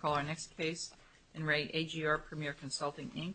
Call our next case in Re AGR Premier Consulting, Inc. Call our next case in Re AGR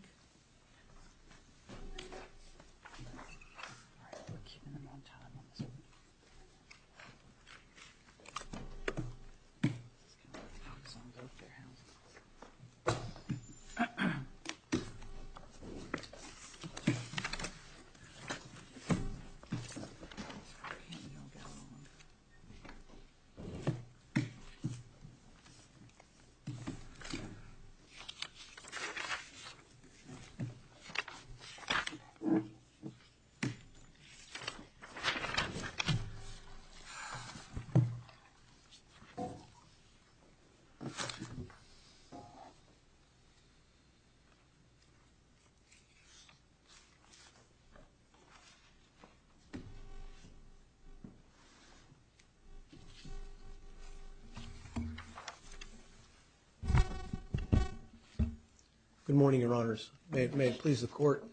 Premier Consulting, Inc. Good morning, Your Honors. May it please the Court,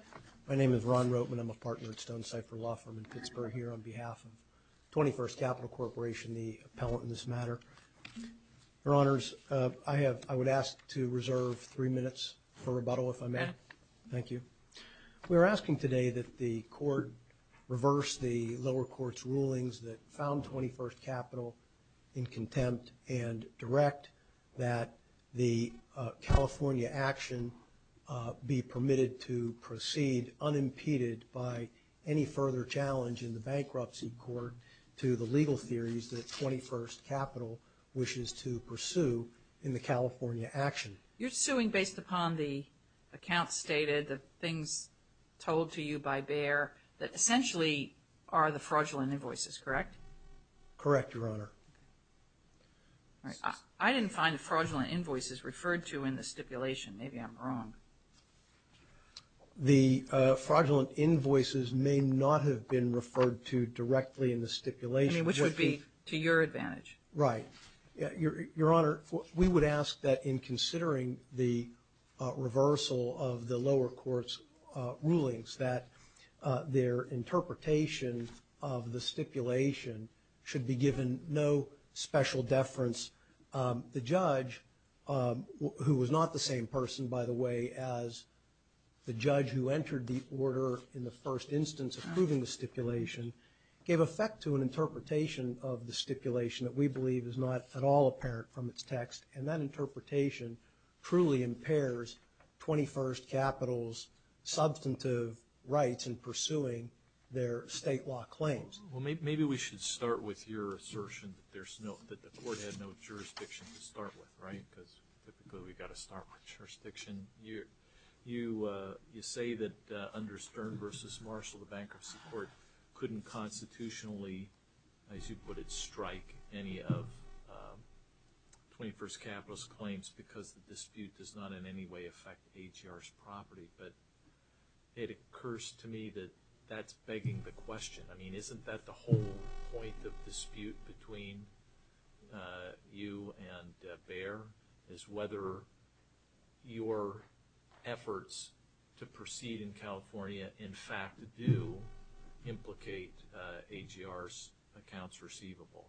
my name is Ron Roteman. I'm a partner at Stonecipher Law Firm in Pittsburgh here on behalf of 21st Capital Corporation, the appellant in this matter. Your Honors, I would ask to reserve three minutes for rebuttal, if I may. Thank you. We are asking today that the Court reverse the lower court's rulings that found 21st Capital in contempt and direct that the California action be permitted to proceed unimpeded by any further challenge in the bankruptcy court to the legal theories that 21st Capital wishes to pursue in the California action. You're suing based upon the accounts stated, the things told to you by Bayer that essentially are the fraudulent invoices, correct? Correct, Your Honor. I didn't find fraudulent invoices referred to in the stipulation. Maybe I'm wrong. The fraudulent invoices may not have been referred to directly in the stipulation. Which would be to your advantage. Right. Your Honor, we would ask that in considering the reversal of the lower court's rulings that their interpretation of the stipulation should be given no special deference. The judge, who was not the same person, by the way, as the judge who entered the order in the first instance approving the stipulation, gave effect to an interpretation of the stipulation that we believe is not at all apparent from its text. And that interpretation truly impairs 21st Capital's substantive rights in pursuing their state law claims. Well, maybe we should start with your assertion that the court had no jurisdiction to start with, right? Because typically we've got to start with jurisdiction. You say that under Stern v. Marshall, the Bankruptcy Court couldn't constitutionally, as you put it, strike any of 21st Capital's claims because the dispute does not in any way affect AGR's property. But it occurs to me that that's begging the question. I mean, isn't that the whole point of dispute between you and Bayer, is whether your efforts to proceed in California in fact do implicate AGR's accounts receivable?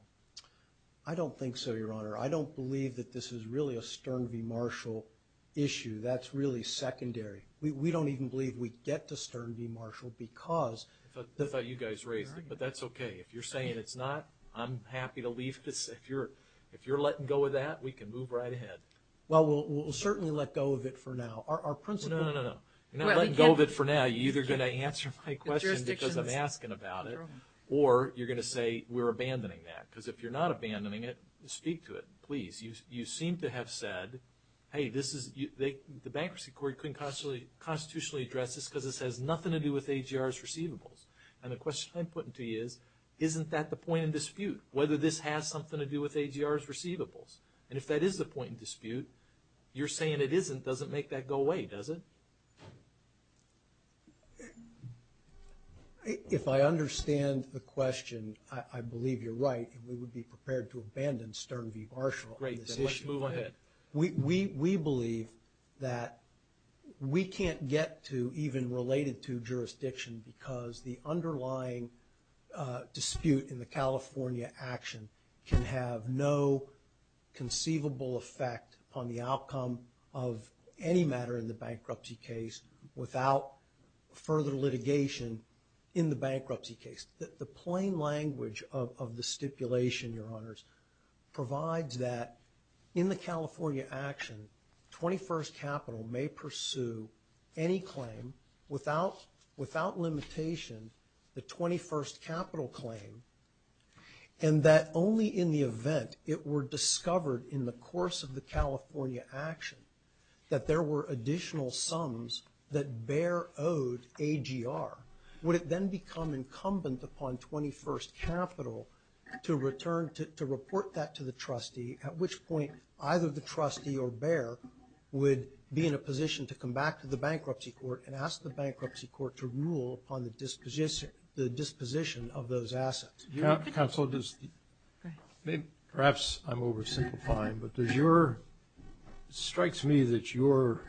I don't think so, Your Honor. I don't believe that this is really a Stern v. Marshall issue. That's really secondary. We don't even believe we get to Stern v. Marshall because – I thought you guys raised it, but that's okay. If you're saying it's not, I'm happy to leave this. If you're letting go of that, we can move right ahead. Well, we'll certainly let go of it for now. Our principle – No, no, no. You're not letting go of it for now. You're either going to answer my question because I'm asking about it or you're going to say we're abandoning that. Because if you're not abandoning it, speak to it, please. You seem to have said, hey, this is – the Bankruptcy Court couldn't constitutionally address this because this has nothing to do with AGR's receivables. And the question I'm putting to you is, isn't that the point of dispute, whether this has something to do with AGR's receivables? And if that is the point of dispute, you're saying it isn't doesn't make that go away, does it? If I understand the question, I believe you're right and we would be prepared to abandon Stern v. Marshall on this issue. Let's move ahead. We believe that we can't get to even related to jurisdiction because the underlying dispute in the California action can have no conceivable effect on the outcome of any matter in the bankruptcy case without further litigation in the bankruptcy case. The plain language of the stipulation, Your Honors, provides that in the California action 21st Capital may pursue any claim without without limitation the 21st Capital claim and that only in the event it were discovered in the course of the California action that there were additional sums that Behr owed AGR. Would it then become incumbent upon 21st Capital to return to report that to the trustee at which point either the trustee or Behr would be in a position to come back to the bankruptcy court and ask the bankruptcy court to rule upon the disposition of those assets? Perhaps I'm oversimplifying, but it strikes me that your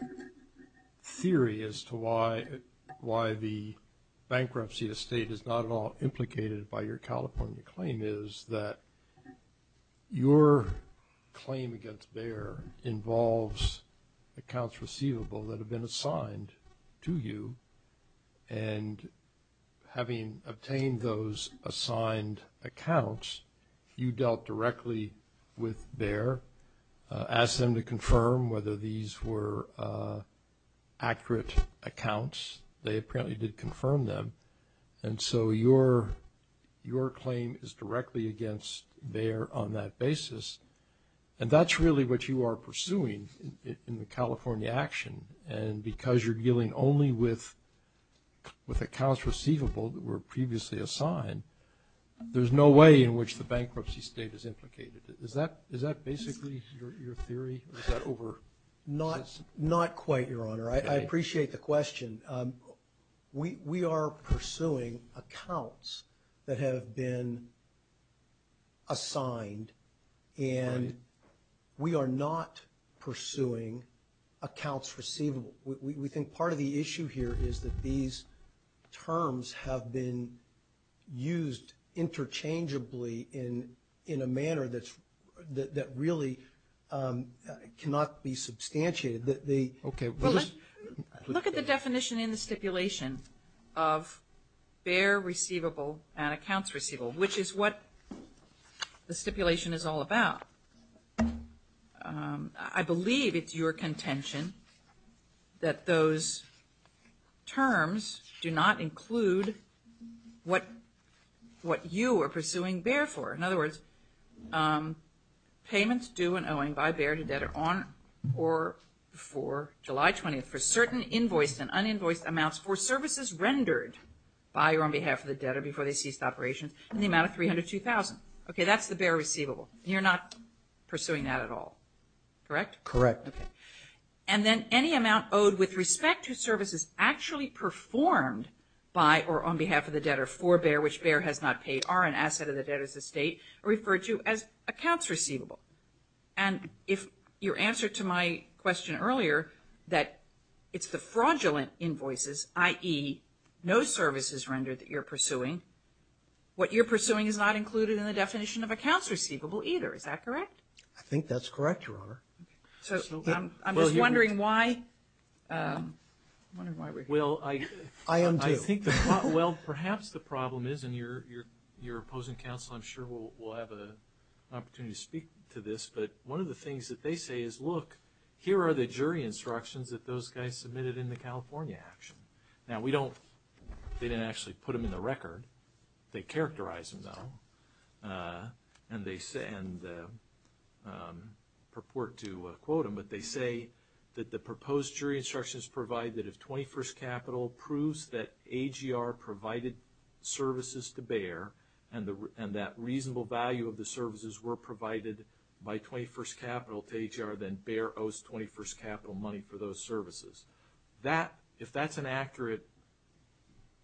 theory as to why the bankruptcy estate is not at all a claim is that your claim against Behr involves accounts receivable that have been assigned to you and having obtained those assigned accounts you dealt directly with Behr, asked them to confirm whether these were accurate accounts. They apparently did confirm them and so your claim is directly against Behr on that basis and that's really what you are pursuing in the California action and because you're dealing only with accounts receivable that were previously assigned there's no way in which the bankruptcy state is implicated. Is that basically your theory? Not quite, Your Honor. I appreciate the question. We are pursuing accounts that have been assigned and we are not pursuing accounts receivable. We think part of the issue here is that these terms have been used interchangeably in a manner that really cannot be substantiated. Look at the definition in the stipulation of Behr receivable and accounts receivable which is what the stipulation is all about. I believe it's your contention that those terms do not include what you are pursuing Behr for. In other words, payments due and owing by Behr to debtor on or before July 20th for certain invoiced and uninvoiced amounts for services rendered by or on behalf of the debtor before they ceased operations in the amount of $302,000. That's the Behr receivable. You're not pursuing that at all, correct? Correct. And then any amount owed with respect to services actually performed by or on behalf of the debtor for Behr which Behr has not paid are an asset of the debtor's estate referred to as accounts receivable. And if your answer to my question earlier that it's the fraudulent invoices, i.e. no services rendered that you're pursuing, what you're pursuing is not included in the definition of accounts receivable either. Is that correct? I think that's correct, Your Honor. I'm wondering why we're here. Perhaps the problem is, and your opposing counsel I'm sure will have an opportunity to speak to this, but one of the things that they say is, look, here are the jury instructions that those guys submitted in the California action. Now we don't, they didn't actually put them in the record. They characterize them though. And they say, and purport to quote them, but they say that the proposed jury instructions provide that if 21st Capitol proves that AGR provided services to Behr and that reasonable value of the services were provided by 21st Capitol to AGR, then Behr owes 21st Capitol money for those services. If that's an accurate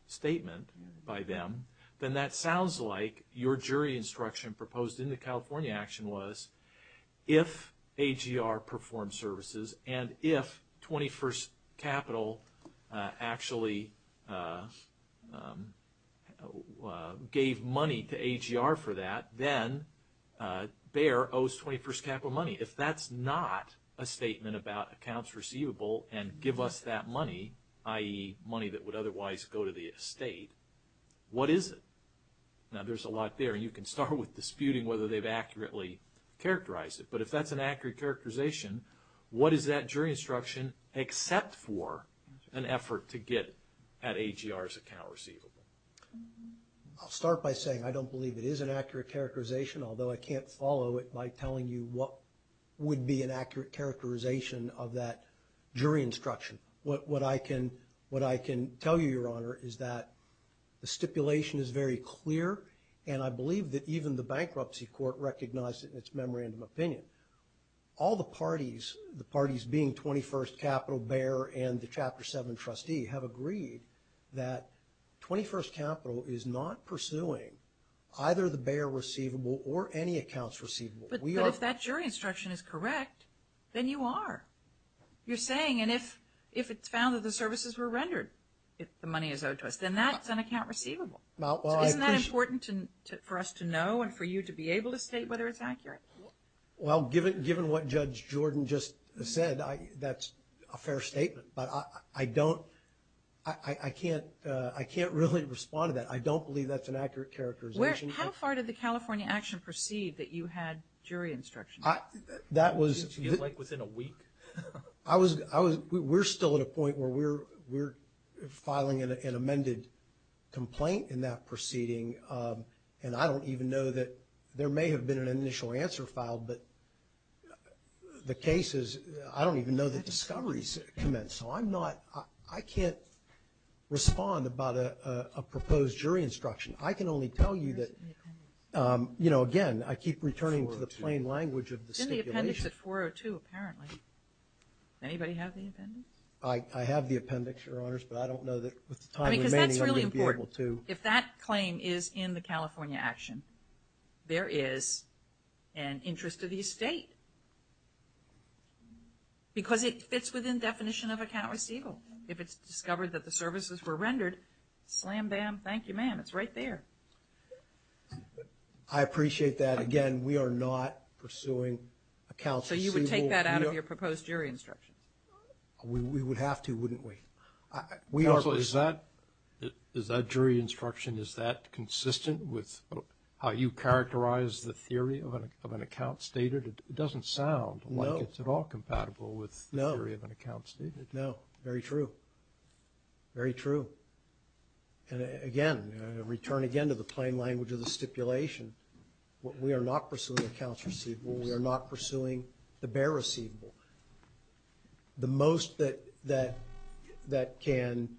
statement by them, then that sounds like your jury instruction proposed in the California action was if AGR performed services and if 21st Capitol actually gave money to AGR for that, then Behr owes 21st Capitol money. If that's not a statement about accounts receivable and give us that money, i.e. money that would otherwise go to the estate, what is it? Now there's a lot there and you can start with disputing whether they've accurately characterized it. But if that's an accurate characterization, what is that jury instruction except for an effort to get at AGR's account receivable? I'll start by saying I don't believe it is an accurate characterization, although I can't follow it by telling you what would be an accurate characterization of that jury instruction. What I can tell you, Your Honor, is that the stipulation is very clear and I believe that even the bankruptcy court recognized it in its memorandum opinion. All the parties, the parties being 21st Capitol, Behr, and the Chapter 7 trustee have agreed that 21st Capitol is not pursuing either the Behr receivable or any accounts receivable. But if that jury instruction is correct, then you are. You're saying, and if it's found that the services were rendered, if the money is owed to us, then that's an account receivable. Isn't that important for us to know and for you to be able to state whether it's accurate? Well, given what Judge Jordan just said, that's a fair statement. But I don't, I can't, I can't really respond to that. I don't believe that's an accurate characterization. How far did the California Action proceed that you had jury instruction? That was... Did she get, like, within a week? I was, we're still at a point where we're filing an amended complaint in that proceeding and I don't even know that, there may have been an initial answer filed, but the case is, I don't even know the discoveries commenced. So I'm not, I can't respond about a proposed jury instruction. I can only tell you that, you know, again, I keep returning to the plain language of the stipulation. It's in the appendix at 402 apparently. Anybody have the appendix? I have the appendix, Your Honors, but I don't know that with the time remaining I'm going to be able to... I mean, because that's really important. If that claim is in the California Action, there is an interest of the estate. Because it fits within definition of account receivable. If it's discovered that the services were rendered, slam bam, thank you ma'am, it's right there. I appreciate that. Again, we are not pursuing account receivable. So you would take that out of your proposed jury instruction? We would have to, wouldn't we? Is that jury instruction, is that consistent with how you characterize the theory of an account stated? It doesn't sound like it's at all compatible with the theory of an account stated. No, very true. Very true. And again, I return again to the plain language of the stipulation. We are not pursuing accounts receivable. We are not pursuing the bare receivable. The most that can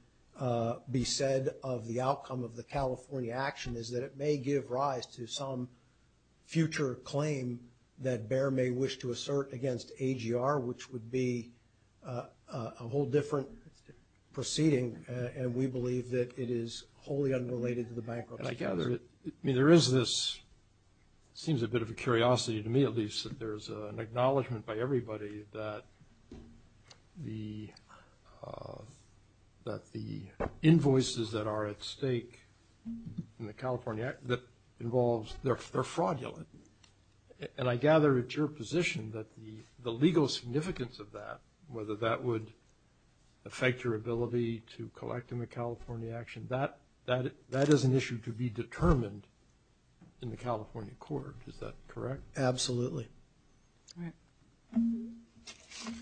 be said of the outcome of the California Action is that it may give rise to some future claim that BEHR may wish to assert against AGR, which would be a whole different proceeding and we believe that it is wholly unrelated to the bankruptcy case. There is this, it seems a bit of a curiosity to me at least, that there's an acknowledgement by everybody that the invoices that are at stake in the California Act, that involves they're fraudulent. And I gather it's your position that the legal significance of that, whether that would affect your ability to collect in the California Action, that is an issue to be determined in the California Court. Is that correct? Absolutely.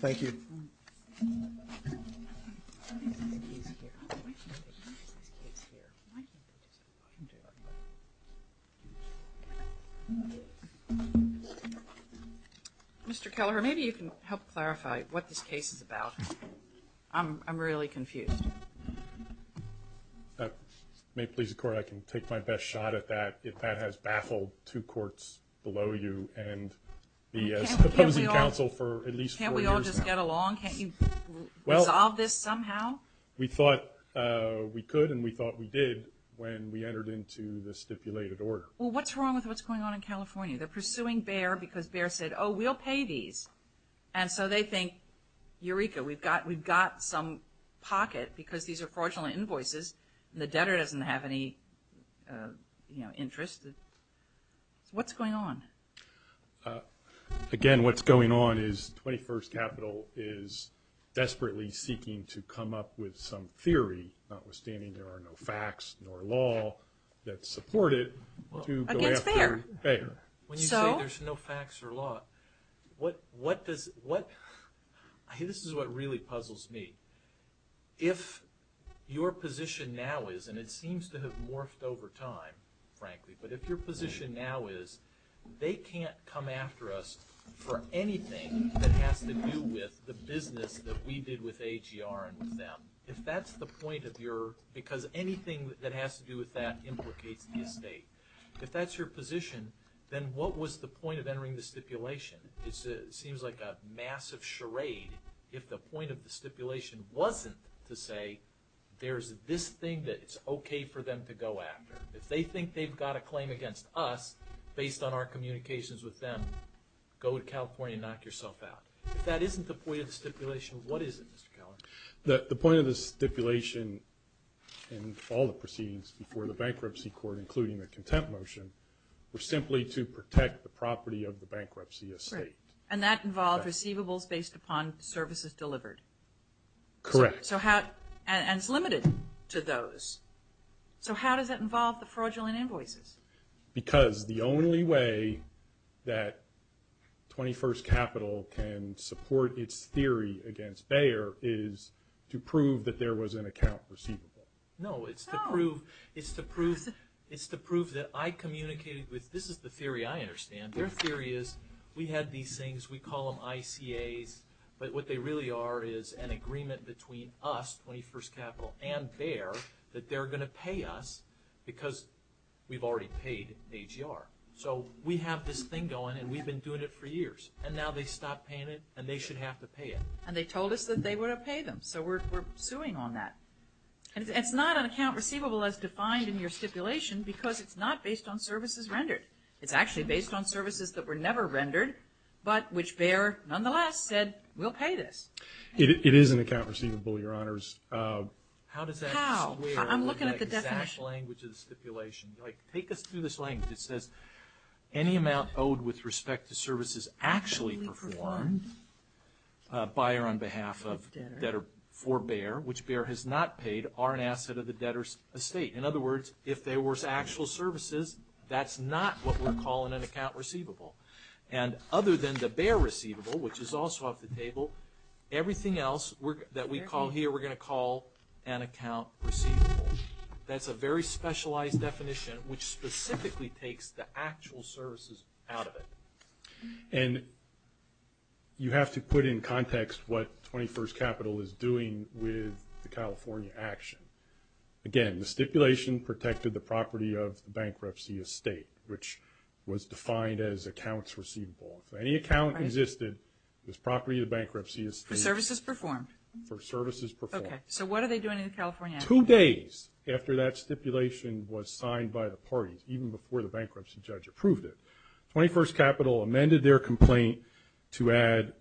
Thank you. Mr. Kelleher, maybe you can help clarify what this case is about. I'm really confused. If it may please the Court, I can take my best shot at that if that has baffled two courts below you and the opposing counsel for at least four years now. Can't we all just get along? Can't you resolve this somehow? We thought we could and we thought we did when we entered into the stipulated order. Well, what's wrong with what's going on in California? They're pursuing Bayer because Bayer said, oh, we'll pay these. And so they think Eureka, we've got some pocket because these are fraudulent invoices and the debtor doesn't have any interest. What's going on? Again, what's going on is 21st Capital is desperately seeking to come up with some theory, notwithstanding there are no facts nor law that support it, to go after Bayer. When you say there's no facts or law, this is what really puzzles me. If your position now is, and it seems to have morphed over time, frankly, but if your position now is they can't come after us for anything that has to do with the business that we did with AGR and with them, if that's the point of your, because anything that has to do with that implicates the estate, if that's your position, then what was the point of entering the stipulation? It seems like a massive charade if the point of the stipulation wasn't to say there's this thing that it's okay for them to go after. If they think they've got a claim against us based on our communications with them, go to California and knock yourself out. If that isn't the point of the stipulation, what is it, Mr. Keller? The point of the stipulation and all the proceedings before the bankruptcy court, including the contempt motion, were simply to protect the property of the bankruptcy estate. And that involved receivables based upon services delivered. Correct. And it's limited to those. So how does that involve the fraudulent invoices? Because the only way that 21st Capital can support its theory against Bayer is to prove that there was an account receivable. No, it's to prove that I communicated with, this is the theory I understand, their theory is we had these things, we call them ICAs, but what they really are is an agreement between us, 21st Capital and Bayer, that they're going to pay us because we've already paid AGR. So we have this thing going and we've been doing it for years. And now they stopped paying it and they should have to pay it. And they told us that they were going to pay them. So we're suing on that. And it's not an account receivable as defined in your stipulation because it's not based on services rendered. It's actually based on services that were never rendered, but which Bayer, nonetheless, said we'll pay this. It is an account receivable, Your Honors. How does that square with the exact language of the stipulation? Take us through this language. It says any amount owed with respect to services actually performed by or on behalf of debtor for Bayer, which Bayer has not paid, are an asset of the debtor's estate. In other words, if there were actual services, that's not what we're calling an account receivable. And other than the Bayer receivable, which is also off the table, everything else that we call here, we're going to call an account receivable. That's a very specialized definition, which specifically takes the actual services out of it. And you have to put in context what 21st Capital is doing with the California action. Again, the stipulation protected the property of the bankruptcy estate, which was defined as accounts receivable. If any account existed, it was property of the bankruptcy estate. For services performed? For services Two days after that stipulation was signed by the parties, even before the bankruptcy judge approved it, 21st Capital amended their complaint to add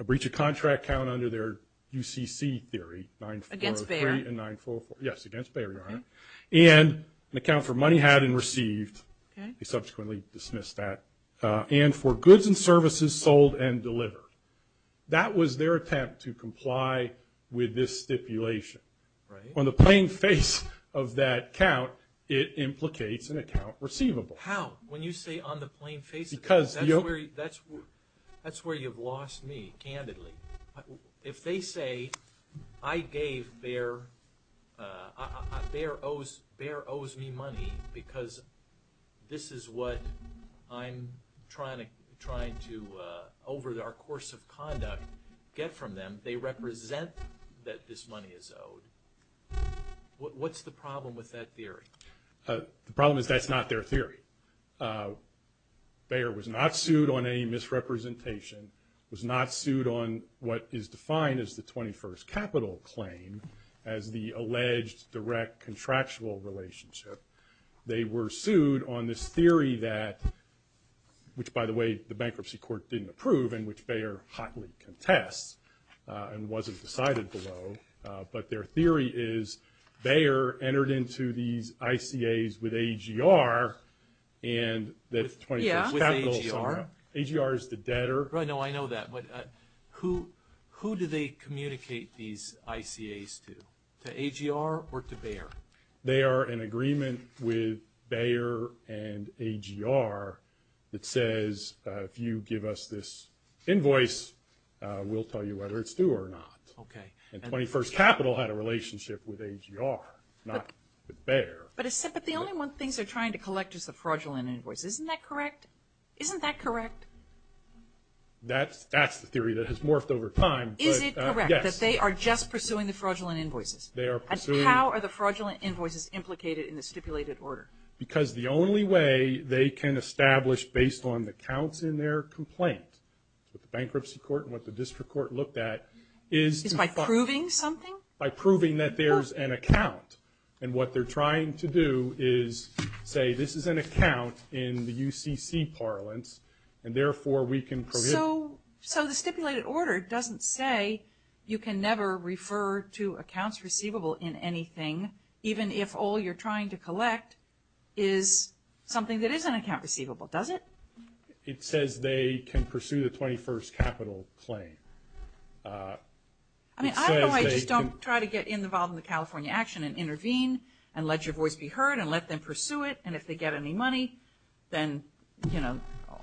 a breach of contract count under their UCC theory, 9403 and 9404. Yes, against Bayer, Your Honor. And an account for money had and received, they subsequently dismissed that, and for goods and services sold and delivered. That was their attempt to comply with this On the plain face of that count, it implicates an account receivable. How? When you say on the plain face of it, that's where you've lost me, candidly. If they say I gave Bayer Bayer owes me money because this is what I'm trying to, over our course of conduct, get from them, they represent that this What's the problem with that theory? The problem is that's not their theory. Bayer was not sued on any misrepresentation, was not sued on what is defined as the 21st Capital claim as the alleged direct contractual relationship. They were sued on this theory that, which by the way, the bankruptcy court didn't approve and which Bayer hotly contests and wasn't decided below, but their theory is Bayer entered into these ICAs with AGR and AGR is the debtor. I know that, but who do they communicate these ICAs to? To AGR or to Bayer? They are in agreement with Bayer and AGR that says if you give us this invoice, we'll tell you whether it's due or not. And 21st Capital had a relationship with AGR not with Bayer. But the only one thing they're trying to collect is the fraudulent invoice. Isn't that correct? Isn't that correct? That's the theory that has morphed over time. Is it correct that they are just pursuing the fraudulent invoices? They are pursuing. And how are the fraudulent invoices implicated in the stipulated order? Because the only way they can establish based on the counts in their complaint with the bankruptcy court and what the district court looked at is by proving something? By proving that there's an account. And what they're trying to do is say this is an account in the UCC parlance and therefore we can prohibit. So the stipulated order doesn't say you can never refer to accounts receivable in anything even if all you're trying to collect is something that is an account receivable, does it? It says they can pursue the 21st Capital claim. I know I just don't try to get involved in the California action and intervene and let your voice be heard and let them pursue it and if they get any money then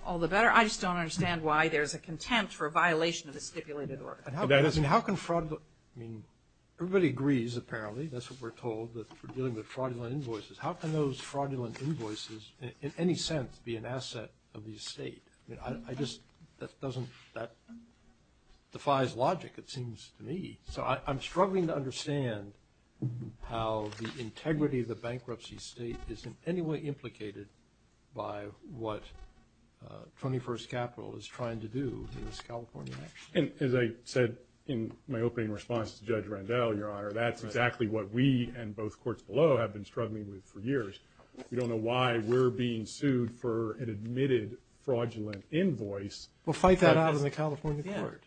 all the better. I just don't understand why there's a contempt for a violation of the stipulated order. Everybody agrees apparently, that's what we're told, that we're dealing with fraudulent invoices. How can those fraudulent invoices in any sense be an asset of the estate? I just, that doesn't, that defies logic it seems to me. So I'm struggling to understand how the integrity of the bankruptcy state is in any way implicated by what 21st Capital is trying to do in this California action. And as I said in my opening response to Judge Randell, Your Honor, that's exactly what we and both courts below have been struggling with for years. We don't know why we're being sued for an admitted fraudulent invoice. We'll fight that out in the California court.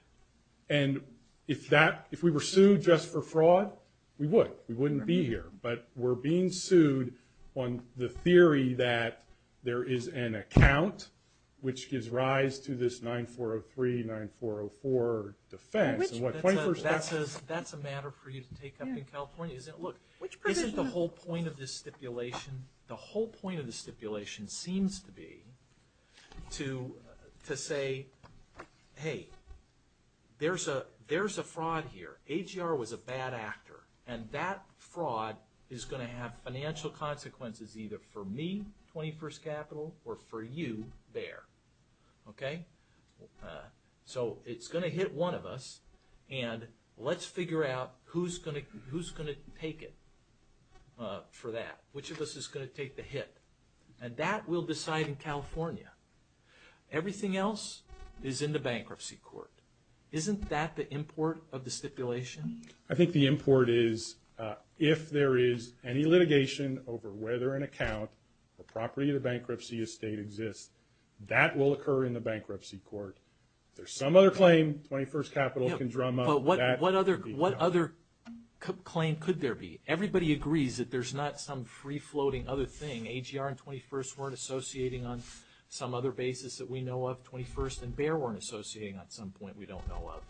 And if that if we were sued just for fraud, we would. We wouldn't be here. But we're being sued on the theory that there is an account which gives rise to this 9403 9404 defense. That's a matter for you to take up in California. Look, isn't the whole point of this stipulation seems to be to say hey, there's a fraud here. AGR was a bad actor. And that fraud is going to have financial consequences either for me, 21st Capital, or for you there. Okay? So it's going to hit one of us and let's figure out who's going to take it for that. Which of us is going to take the hit? And that we'll decide in California. Everything else is in the bankruptcy court. Isn't that the import of the stipulation? I think the import is if there is any litigation over whether an account or property of the bankruptcy estate exists, that will occur in the bankruptcy court. If there's some other claim, 21st Capital can drum up. But what other claim could there be? Everybody agrees that there's not some free-floating other thing. AGR and 21st weren't associating on some other basis that we know of. 21st and Bayer weren't associating on some point we don't know of.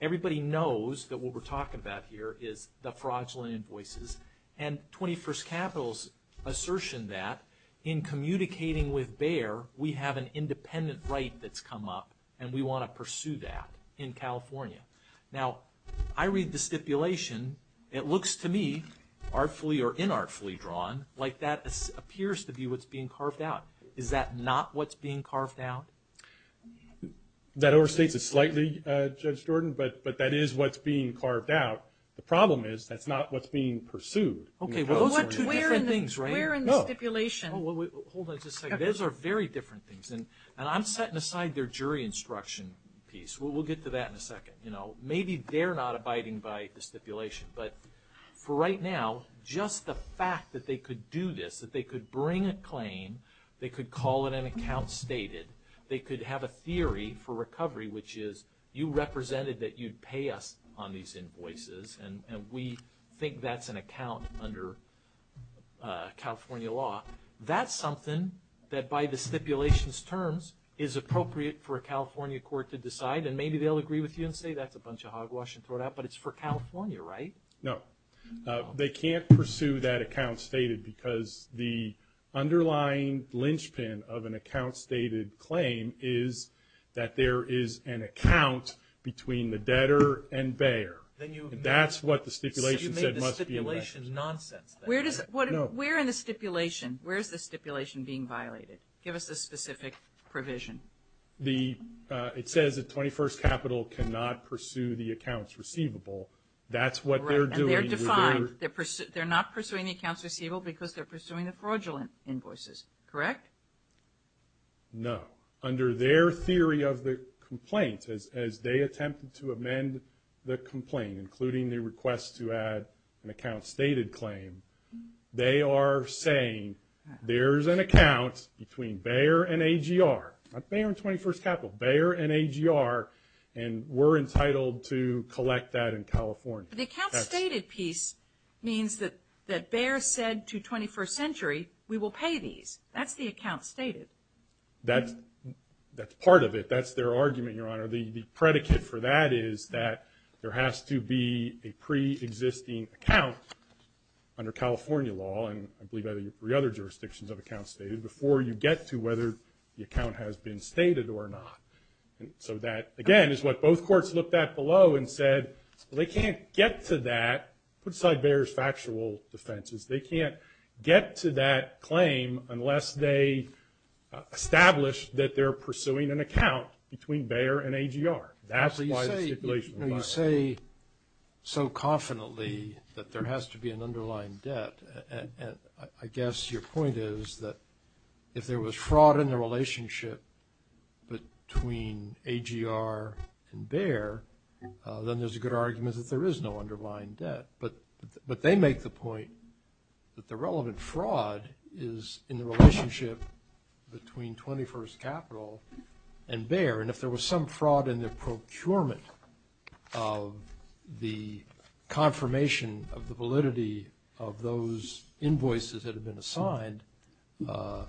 Everybody knows that what we're talking about here is the fraudulent invoices. And 21st Capital's assertion that in communicating with Bayer, we have an independent right that's come up and we want to pursue that in California. Now, I read the artfully or inartfully drawn, like that appears to be what's being carved out. Is that not what's being carved out? That overstates it slightly, Judge Jordan, but that is what's being carved out. The problem is that's not what's being pursued. Okay, well those are two different things, right? Where in the stipulation? Those are very different things. And I'm setting aside their jury instruction piece. We'll get to that in a second. Maybe they're not abiding by the stipulation, but for right now, just the fact that they could do this, that they could bring a claim, they could call it an account stated, they could have a theory for recovery which is you represented that you'd pay us on these invoices and we think that's an account under California law. That's something that by the stipulation's terms is appropriate for a California court to decide and maybe they'll agree with you and say that's a bunch of hogwash and throw it out, but it's for California, right? No. They can't pursue that account stated because the underlying linchpin of an account stated claim is that there is an account between the debtor and bearer. That's what the stipulation said must be in there. Where in the stipulation? Where is the stipulation being violated? Give us the specific provision. It says that 21st Capital cannot pursue the accounts receivable. That's what they're doing. They're not pursuing the accounts receivable because they're pursuing the fraudulent invoices. Correct? No. Under their theory of the complaint, as they attempted to amend the complaint, including the request to add an account stated claim, they are saying there's an account between bearer and 21st Capital, bearer and AGR, and we're entitled to collect that in California. The account stated piece means that bearer said to 21st Century, we will pay these. That's the account stated. That's part of it. That's their argument, Your Honor. The predicate for that is that there has to be a pre-existing account under California law, and I believe there are three other jurisdictions of accounts stated, before you get to whether the account has been stated or not. Again, it's what both courts looked at below and said, they can't get to that. Put aside bearer's factual defenses. They can't get to that claim unless they establish that they're pursuing an account between bearer and AGR. You say so confidently that there has to be an underlying debt. I guess your point is that if there was fraud in the relationship between AGR and bearer, then there's a good argument that there is no underlying debt, but they make the point that the relevant fraud is in the relationship between 21st Capital and bearer, and if there was some fraud in the procurement of the confirmation of the validity of those invoices that have been assigned to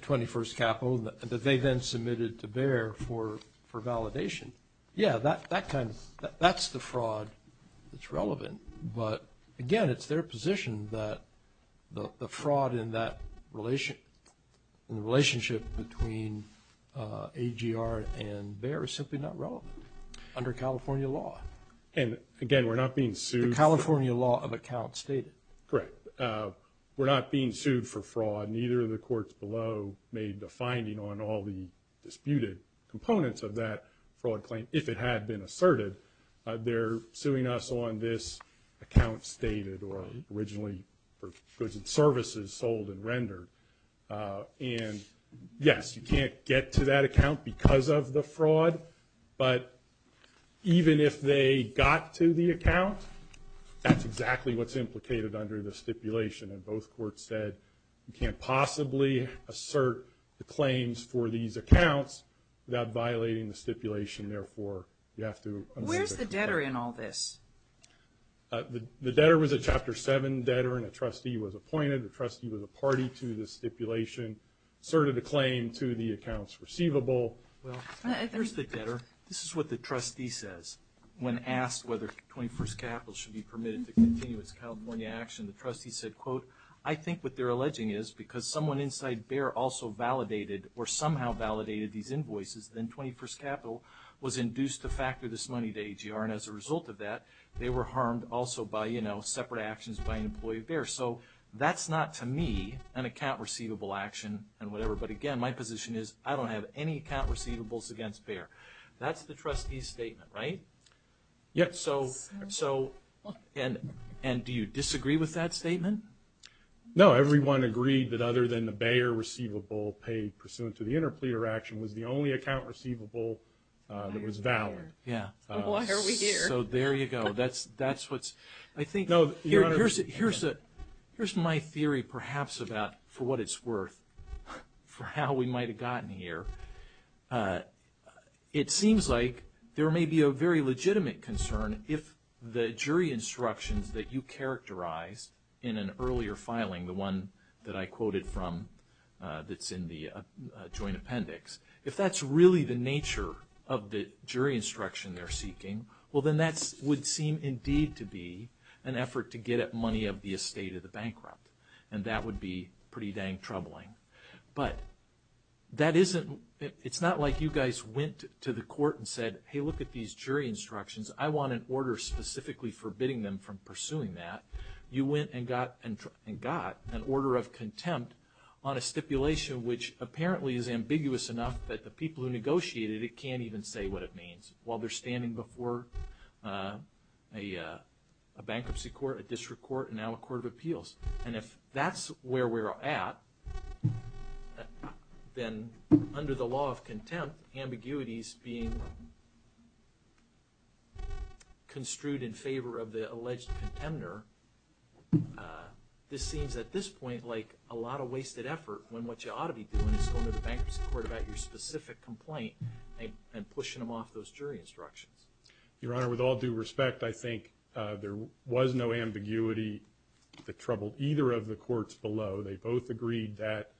21st Capital that they then submitted to bearer for validation, yeah, that's the fraud that's relevant, but again, it's their position that the fraud in the relationship between AGR and bearer is simply not relevant under California law. And again, we're not being sued. The California law of accounts stated. Correct. We're not being sued for fraud. Neither of the courts below made the finding on all the disputed components of that fraud claim. If it had been asserted, they're suing us on this account stated or originally for goods and services sold and rendered, and yes, you can't get to that account because of the fraud, but even if they got to the account, that's exactly what's implicated under the stipulation, and both courts said you can't possibly assert the claims for these accounts without violating the stipulation, therefore you have to. Where's the debtor in all this? The debtor was a Chapter 7 debtor and a trustee was appointed. The trustee was a party to the stipulation, asserted a claim to the accounts receivable. Well, there's the debtor. This is what the trustee says when asked whether 21st Capital should be permitted to continue its California action. The trustee said, quote, I think what they're alleging is because someone inside BEAR also validated or somehow validated these invoices then 21st Capital was induced to factor this money to AGR and as a result of that, they were harmed also by, you know, separate actions by an employee of BEAR. So that's not to me an account receivable action and whatever, but again, my position is I don't have any account receivables against BEAR. That's the trustee's statement, right? And do you disagree with that statement? No, everyone agreed that other than the BEAR receivable paid pursuant to the interpleader action was the only account receivable that was valid. So there you go. Here's my theory perhaps about for what it's worth, for how we might have gotten here. It seems like there may be a very legitimate concern if the jury instructions that you characterized in an earlier filing, the one that I quoted from that's in the joint appendix, if that's really the nature of the jury instruction they're seeking, well then that would seem indeed to be an effort to get at money of the estate of the bankrupt and that would be pretty dang troubling. But it's not like you guys went to the court and said, hey look at these jury instructions, I want an order specifically forbidding them from pursuing that. You went and got an order of contempt on a stipulation which apparently is ambiguous enough that the people who negotiated it can't even say what it means while they're standing before a bankruptcy court, a district court, and now a court of appeals. And if that's where we're at, then under the law of contempt, ambiguities being construed in favor of the alleged contender, this seems at this point like a lot of wasted effort when what you ought to be doing is going to the bankruptcy court about your specific complaint and pushing them off those jury instructions. Your Honor, with all due respect, I think there was no ambiguity that troubled either of the courts below. They both agreed that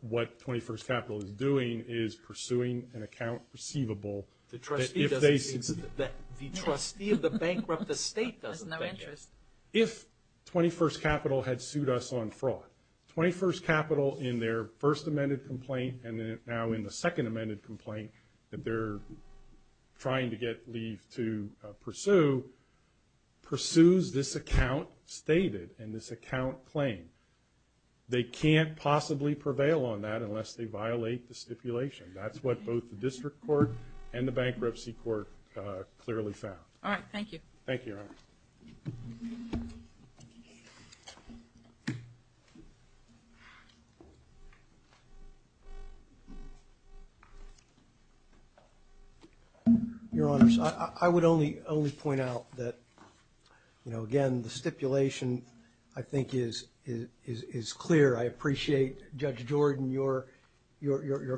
what 21st Capital is doing is pursuing an account receivable. The trustee of the bankrupt estate doesn't have interest. If 21st Capital had sued us on fraud, 21st Capital in their first amended complaint and now in the second amended complaint that they're trying to get leave to pursue pursues this account stated and this account claimed. They can't possibly prevail on that unless they violate the stipulation. That's what both the district court and the bankruptcy court clearly found. Alright, thank you. Thank you, Your Honor. Your Honor, I would only point out that, you know, again, the stipulation I think is clear. I appreciate Judge Jordan, your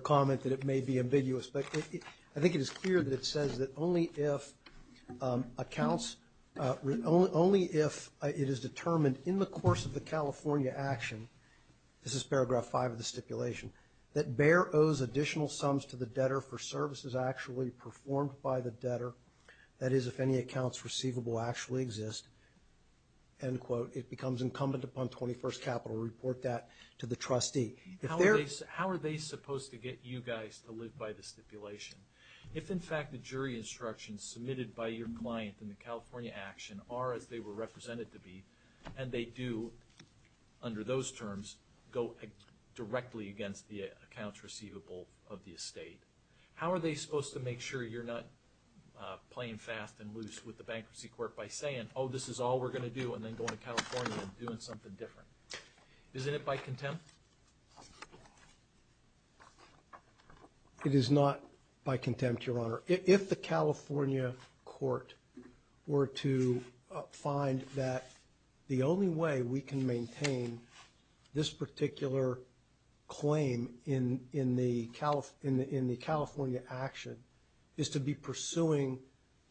comment that it may be ambiguous, but I think it is clear that it says that only if plaintiff's claim that the plaintiff's claim is determined in the course of the California action, this is paragraph five of the stipulation, that Bayer owes additional sums to the debtor for services actually performed by the debtor, that is if any accounts receivable actually exist, end quote, it becomes incumbent upon 21st Capital to report that to the trustee. How are they supposed to get you guys to live by the stipulation? If in fact the jury instructions submitted by your client in the California action are as they were represented to be, and they do under those terms go directly against the accounts receivable of the estate, how are they supposed to make sure you're not playing fast and loose with the bankruptcy court by saying, oh, this is all we're going to do and then going to California and doing something different? Isn't it by contempt? It is not by contempt, Your Honor. If the California court were to find that the only way we can maintain this particular claim in the California action is to be pursuing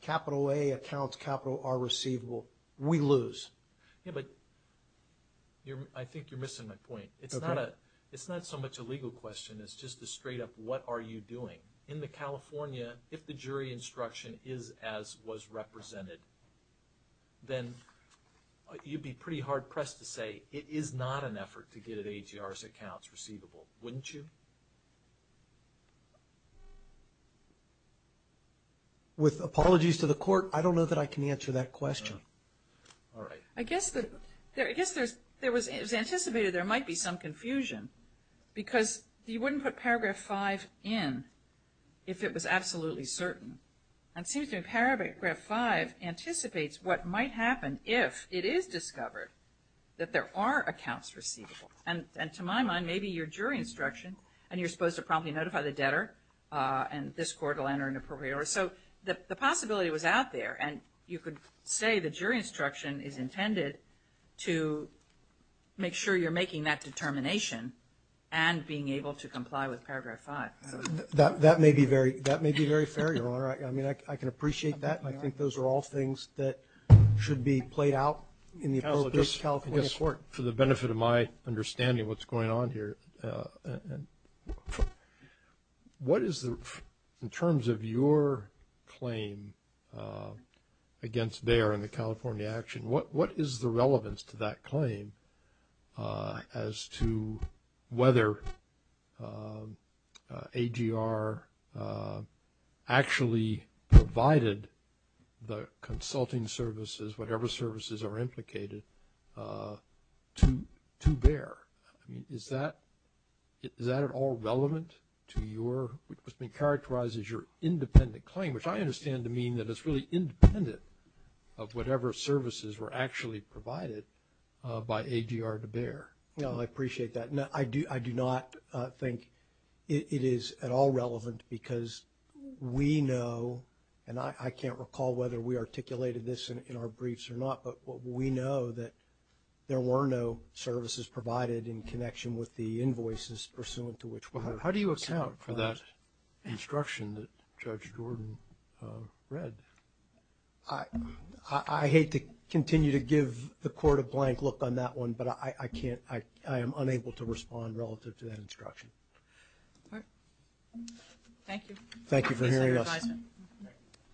capital A accounts, capital R receivable, we lose. I think you're missing my point. It's not so much a legal question, it's just a straight up, what are you doing? In the California, if the jury instruction is as was represented, then you'd be pretty hard pressed to say it is not an effort to get at AGR's accounts receivable, wouldn't you? With apologies to the court, I don't know that I can answer that question. I guess there was anticipated there might be some confusion, because you wouldn't put paragraph 5 in if it was absolutely certain. And it seems to me paragraph 5 anticipates what might happen if it is discovered that there are accounts receivable. And to my mind, maybe your jury instruction, and you're supposed to promptly notify the debtor and this court will enter an appropriate order. So the possibility was out there and you could say the jury instruction is intended to make sure you're making that determination and being able to comply with paragraph 5. That may be very fair, Your Honor. I can appreciate that. I think those are all things that should be played out in the appropriate California court. For the benefit of my understanding of what's going on here, in terms of your claim against Bayer and the California action, what is the relevance to that claim as to whether AGR actually provided the consulting services, whatever services are implicated, to Bayer? Is that at all relevant to your, what's been characterized as your independent claim, which I understand to mean that it's really independent of whatever services were actually provided by AGR to Bayer. No, I appreciate that. I do not think it is at all relevant because we know, and I can't recall whether we articulated this in our briefs or not, but we know that there were no services provided in connection with the invoices pursuant to which we were. How do you account for that instruction that Judge Jordan read? I hate to continue to give the court a blank look on that one, but I am unable to respond relative to that instruction. Thank you. Thank you for hearing us.